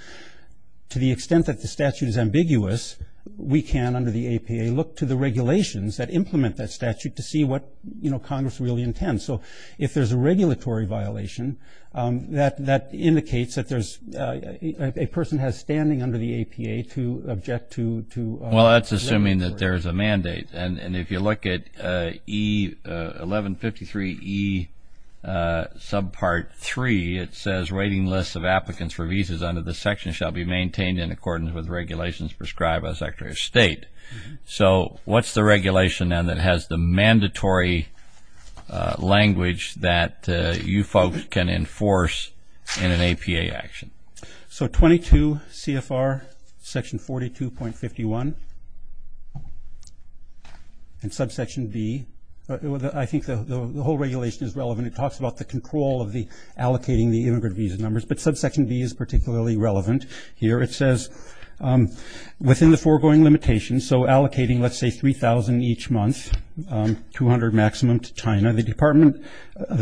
To the extent that the statute is ambiguous, we can, under the APA, look to the regulations that implement that statute to see what Congress really intends. So if there's a regulatory violation, that indicates that a person has standing under the APA to object to a waiver. Well, that's assuming that there's a mandate. And if you look at 1153E subpart 3, it says, waiting lists of applicants for visas under this section shall be maintained in accordance with regulations prescribed by the Secretary of State. So what's the regulation then that has the mandatory language that you folks can enforce in an APA action? So 22 CFR section 42.51 and subsection B. I think the whole regulation is relevant. It talks about the control of allocating the immigrant visa numbers, but subsection B is particularly relevant here. It says, within the foregoing limitations, so allocating, let's say, 3,000 each month, 200 maximum to China, the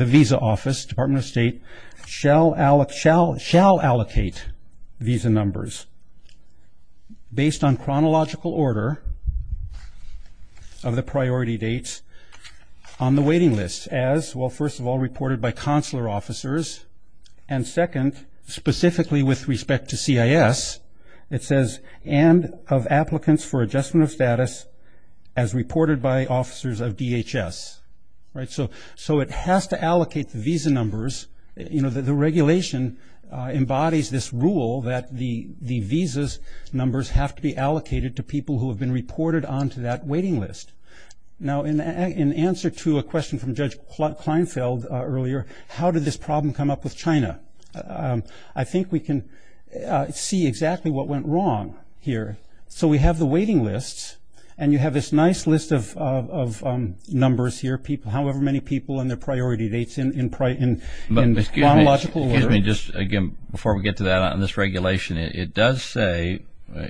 Visa Office, Department of State, shall allocate visa numbers based on chronological order of the priority dates on the waiting list as, well, first of all, reported by consular officers, and second, specifically with respect to CIS, it says, and of applicants for adjustment of status as reported by officers of DHS. So it has to allocate the visa numbers. The regulation embodies this rule that the visas numbers have to be allocated to people who have been reported onto that waiting list. Now, in answer to a question from Judge Kleinfeld earlier, how did this problem come up with China? I think we can see exactly what went wrong here. So we have the waiting lists, and you have this nice list of numbers here, however many people and their priority dates in chronological order. Excuse me, just again, before we get to that on this regulation, it does say,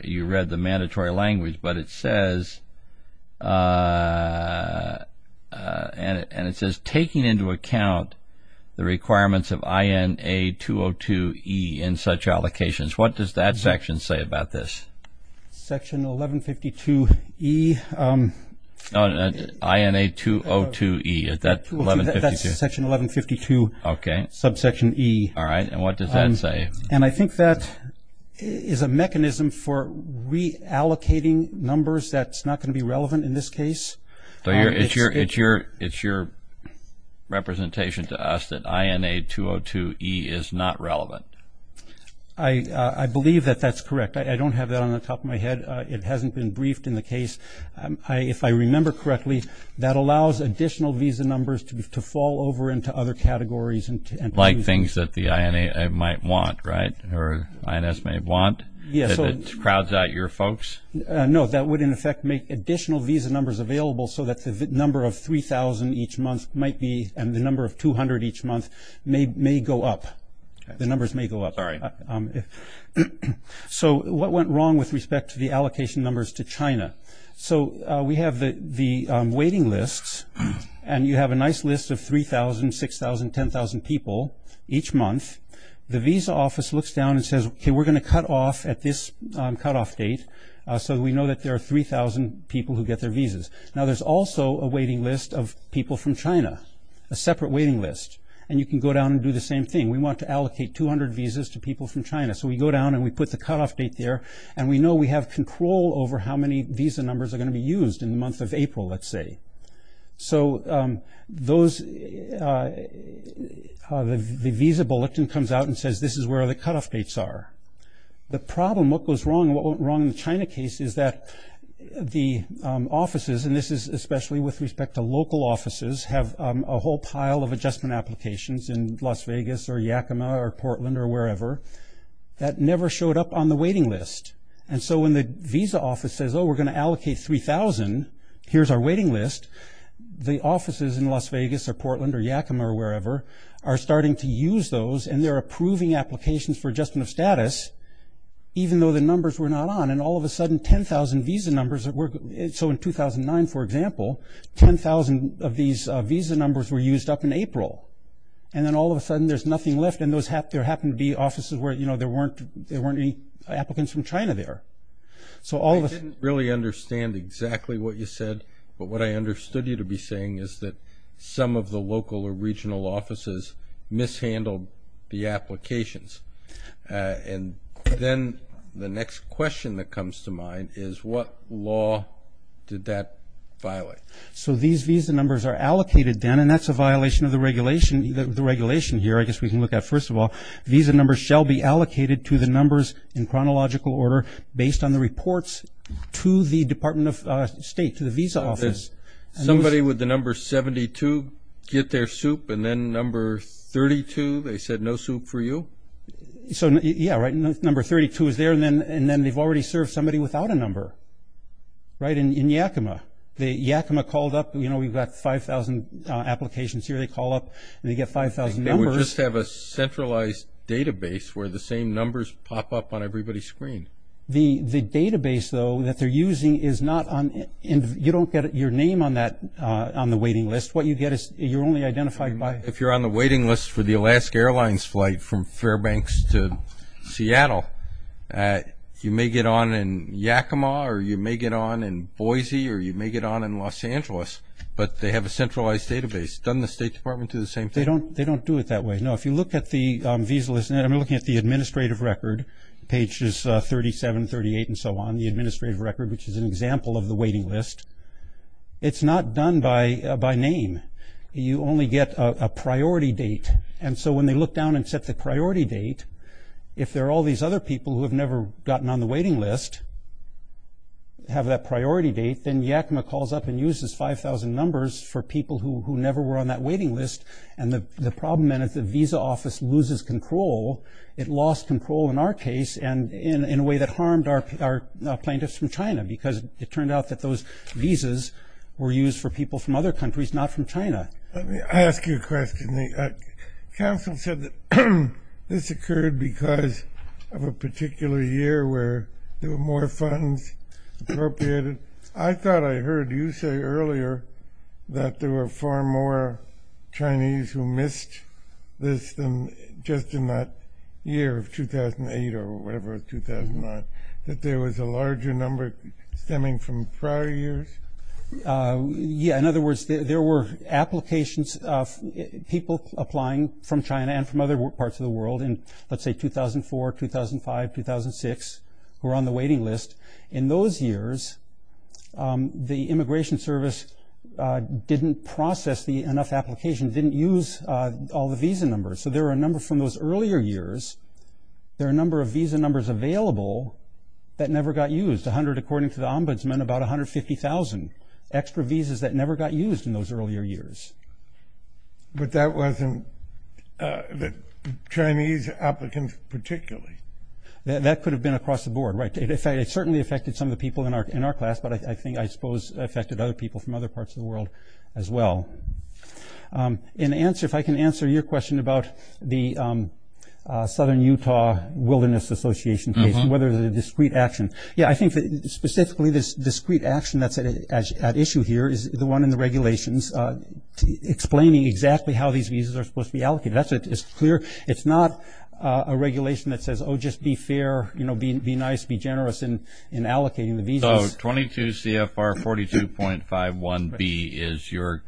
you read the mandatory language, but it says, and it says, taking into account the requirements of INA202E in such allocations. What does that section say about this? Section 1152E. INA202E, is that 1152? That's section 1152, subsection E. All right, and what does that say? And I think that is a mechanism for reallocating numbers that's not going to be relevant in this case. It's your representation to us that INA202E is not relevant. I believe that that's correct. I don't have that on the top of my head. It hasn't been briefed in the case. If I remember correctly, that allows additional visa numbers to fall over into other categories. Like things that the INA might want, right, or INS may want? Yes. If it crowds out your folks? No, that would, in effect, make additional visa numbers available so that the number of 3,000 each month might be, and the number of 200 each month may go up. The numbers may go up. Sorry. So what went wrong with respect to the allocation numbers to China? So we have the waiting lists, and you have a nice list of 3,000, 6,000, 10,000 people each month. The visa office looks down and says, okay, we're going to cut off at this cutoff date so that we know that there are 3,000 people who get their visas. Now, there's also a waiting list of people from China, a separate waiting list, and you can go down and do the same thing. We want to allocate 200 visas to people from China. So we go down and we put the cutoff date there, and we know we have control over how many visa numbers are going to be used in the month of April, let's say. So the visa bulletin comes out and says this is where the cutoff dates are. The problem, what goes wrong, what went wrong in the China case is that the offices, and this is especially with respect to local offices, have a whole pile of adjustment applications in Las Vegas or Yakima or Portland or wherever that never showed up on the waiting list. And so when the visa office says, oh, we're going to allocate 3,000, here's our waiting list, the offices in Las Vegas or Portland or Yakima or wherever are starting to use those, and they're approving applications for adjustment of status even though the numbers were not on. And all of a sudden, 10,000 visa numbers that were ‑‑ these visa numbers were used up in April, and then all of a sudden there's nothing left, and there happened to be offices where there weren't any applicants from China there. So all of a sudden ‑‑ I didn't really understand exactly what you said, but what I understood you to be saying is that some of the local or regional offices mishandled the applications. And then the next question that comes to mind is what law did that violate? So these visa numbers are allocated, Dan, and that's a violation of the regulation here, I guess we can look at first of all. Visa numbers shall be allocated to the numbers in chronological order based on the reports to the Department of State, to the visa office. Somebody with the number 72 get their soup, and then number 32, they said no soup for you? Yeah, right, number 32 is there, and then they've already served somebody without a number, right, in Yakima. The Yakima called up, you know, we've got 5,000 applications here. They call up and they get 5,000 numbers. They would just have a centralized database where the same numbers pop up on everybody's screen. The database, though, that they're using is not on ‑‑ you don't get your name on the waiting list. What you get is you're only identified by ‑‑ If you're on the waiting list for the Alaska Airlines flight from Fairbanks to Seattle, you may get on in Yakima, or you may get on in Boise, or you may get on in Los Angeles, but they have a centralized database. Doesn't the State Department do the same thing? They don't do it that way. No, if you look at the visa list, and I'm looking at the administrative record, pages 37, 38, and so on, the administrative record, which is an example of the waiting list, it's not done by name. You only get a priority date, and so when they look down and set the priority date, if there are all these other people who have never gotten on the waiting list, have that priority date, then Yakima calls up and uses 5,000 numbers for people who never were on that waiting list, and the problem then is the visa office loses control. It lost control in our case and in a way that harmed our plaintiffs from China because it turned out that those visas were used for people from other countries, not from China. Let me ask you a question. Counsel said that this occurred because of a particular year where there were more funds appropriated. I thought I heard you say earlier that there were far more Chinese who missed this than just in that year of 2008 or whatever, 2009, that there was a larger number stemming from prior years. Yeah, in other words, there were applications of people applying from China and from other parts of the world in, let's say, 2004, 2005, 2006, who were on the waiting list. In those years, the Immigration Service didn't process enough applications, didn't use all the visa numbers, so there were a number from those earlier years. There are a number of visa numbers available that never got used, 100 according to the ombudsman, about 150,000 extra visas that never got used in those earlier years. But that wasn't the Chinese applicants particularly. That could have been across the board, right. It certainly affected some of the people in our class, but I think I suppose it affected other people from other parts of the world as well. In answer, if I can answer your question about the Southern Utah Wilderness Association case and whether the discrete action, yeah, I think that specifically this discrete action that's at issue here is the one in the regulations explaining exactly how these visas are supposed to be allocated. That's clear. It's not a regulation that says, oh, just be fair, be nice, be generous in allocating the visas. So 22 CFR 42.51B is your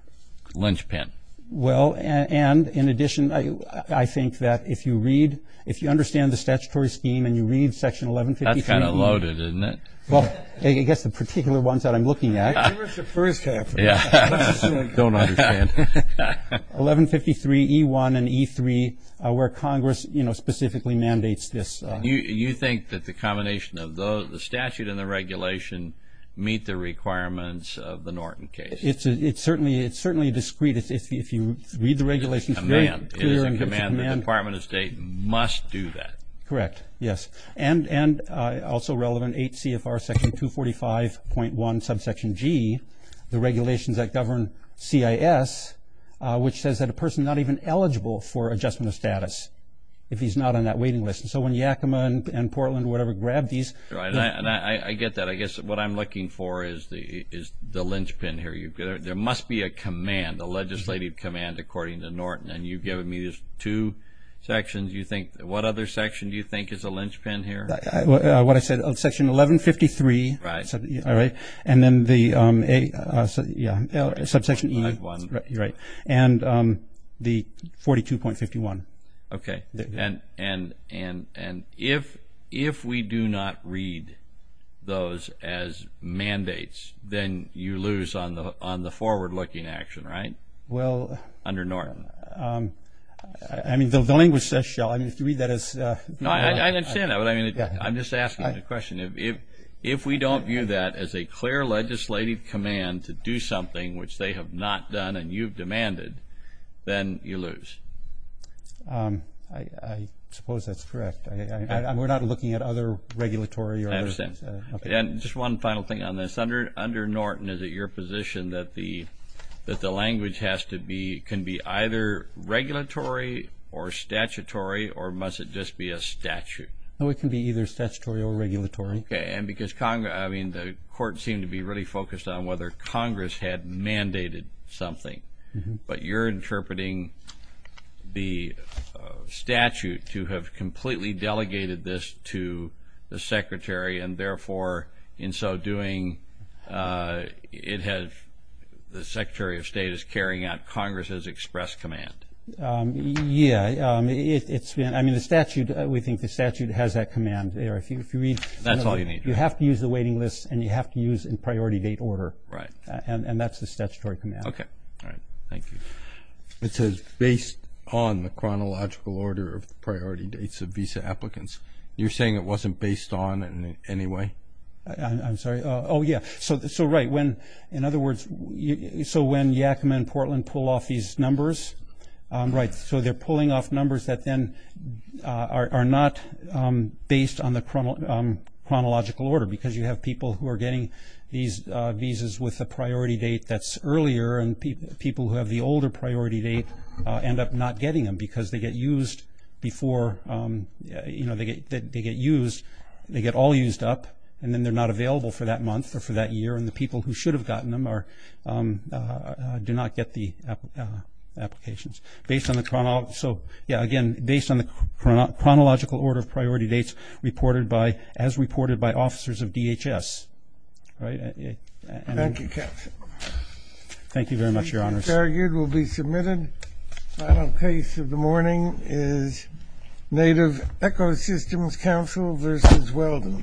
linchpin. Well, and in addition, I think that if you read, if you understand the statutory scheme and you read section 1153. That's kind of loaded, isn't it? Well, I guess the particular ones that I'm looking at. Give us the first half. I don't understand. 1153E1 and E3 where Congress specifically mandates this. You think that the combination of the statute and the regulation meet the requirements of the Norton case? It's certainly discrete. If you read the regulations. It is a command. The Department of State must do that. Correct. Yes. And also relevant, 8 CFR section 245.1 subsection G, the regulations that govern CIS, which says that a person is not even eligible for adjustment of status if he's not on that waiting list. So when Yakima and Portland or whatever grabbed these. I get that. I guess what I'm looking for is the linchpin here. There must be a command, a legislative command, according to Norton. And you've given me these two sections. What other section do you think is a linchpin here? What I said, section 1153. Right. And then the subsection E. Right. And the 42.51. Okay. And if we do not read those as mandates, then you lose on the forward-looking action, right? Well. Under Norton. I mean, the language says so. I mean, if you read that as... No, I understand that. But, I mean, I'm just asking the question. If we don't view that as a clear legislative command to do something, which they have not done and you've demanded, then you lose. I suppose that's correct. We're not looking at other regulatory or other... I understand. And just one final thing on this. Under Norton, is it your position that the language has to be, can be either regulatory or statutory or must it just be a statute? No, it can be either statutory or regulatory. Okay. And because Congress, I mean, the court seemed to be really focused on whether Congress had mandated something. But you're interpreting the statute to have completely delegated this to the Secretary and, therefore, in so doing, it has, the Secretary of State is carrying out Congress's express command. Yeah. It's been, I mean, the statute, we think the statute has that command there. If you read... That's all you need. You have to use the waiting list and you have to use in priority date order. Right. And that's the statutory command. Okay. All right. Thank you. It says, based on the chronological order of priority dates of visa applicants. You're saying it wasn't based on in any way? I'm sorry. Oh, yeah. So, right, when, in other words, so when Yakima and Portland pull off these numbers... Right. Because you have people who are getting these visas with a priority date that's earlier and people who have the older priority date end up not getting them because they get used before, you know, they get used, they get all used up and then they're not available for that month or for that year and the people who should have gotten them are, do not get the applications. Based on the, so, yeah, again, based on the chronological order of priority dates reported by, as reported by officers of DHS. Right. Thank you, Captain. Thank you very much, Your Honors. These issues argued will be submitted. Final case of the morning is Native Ecosystems Council v. Weldon.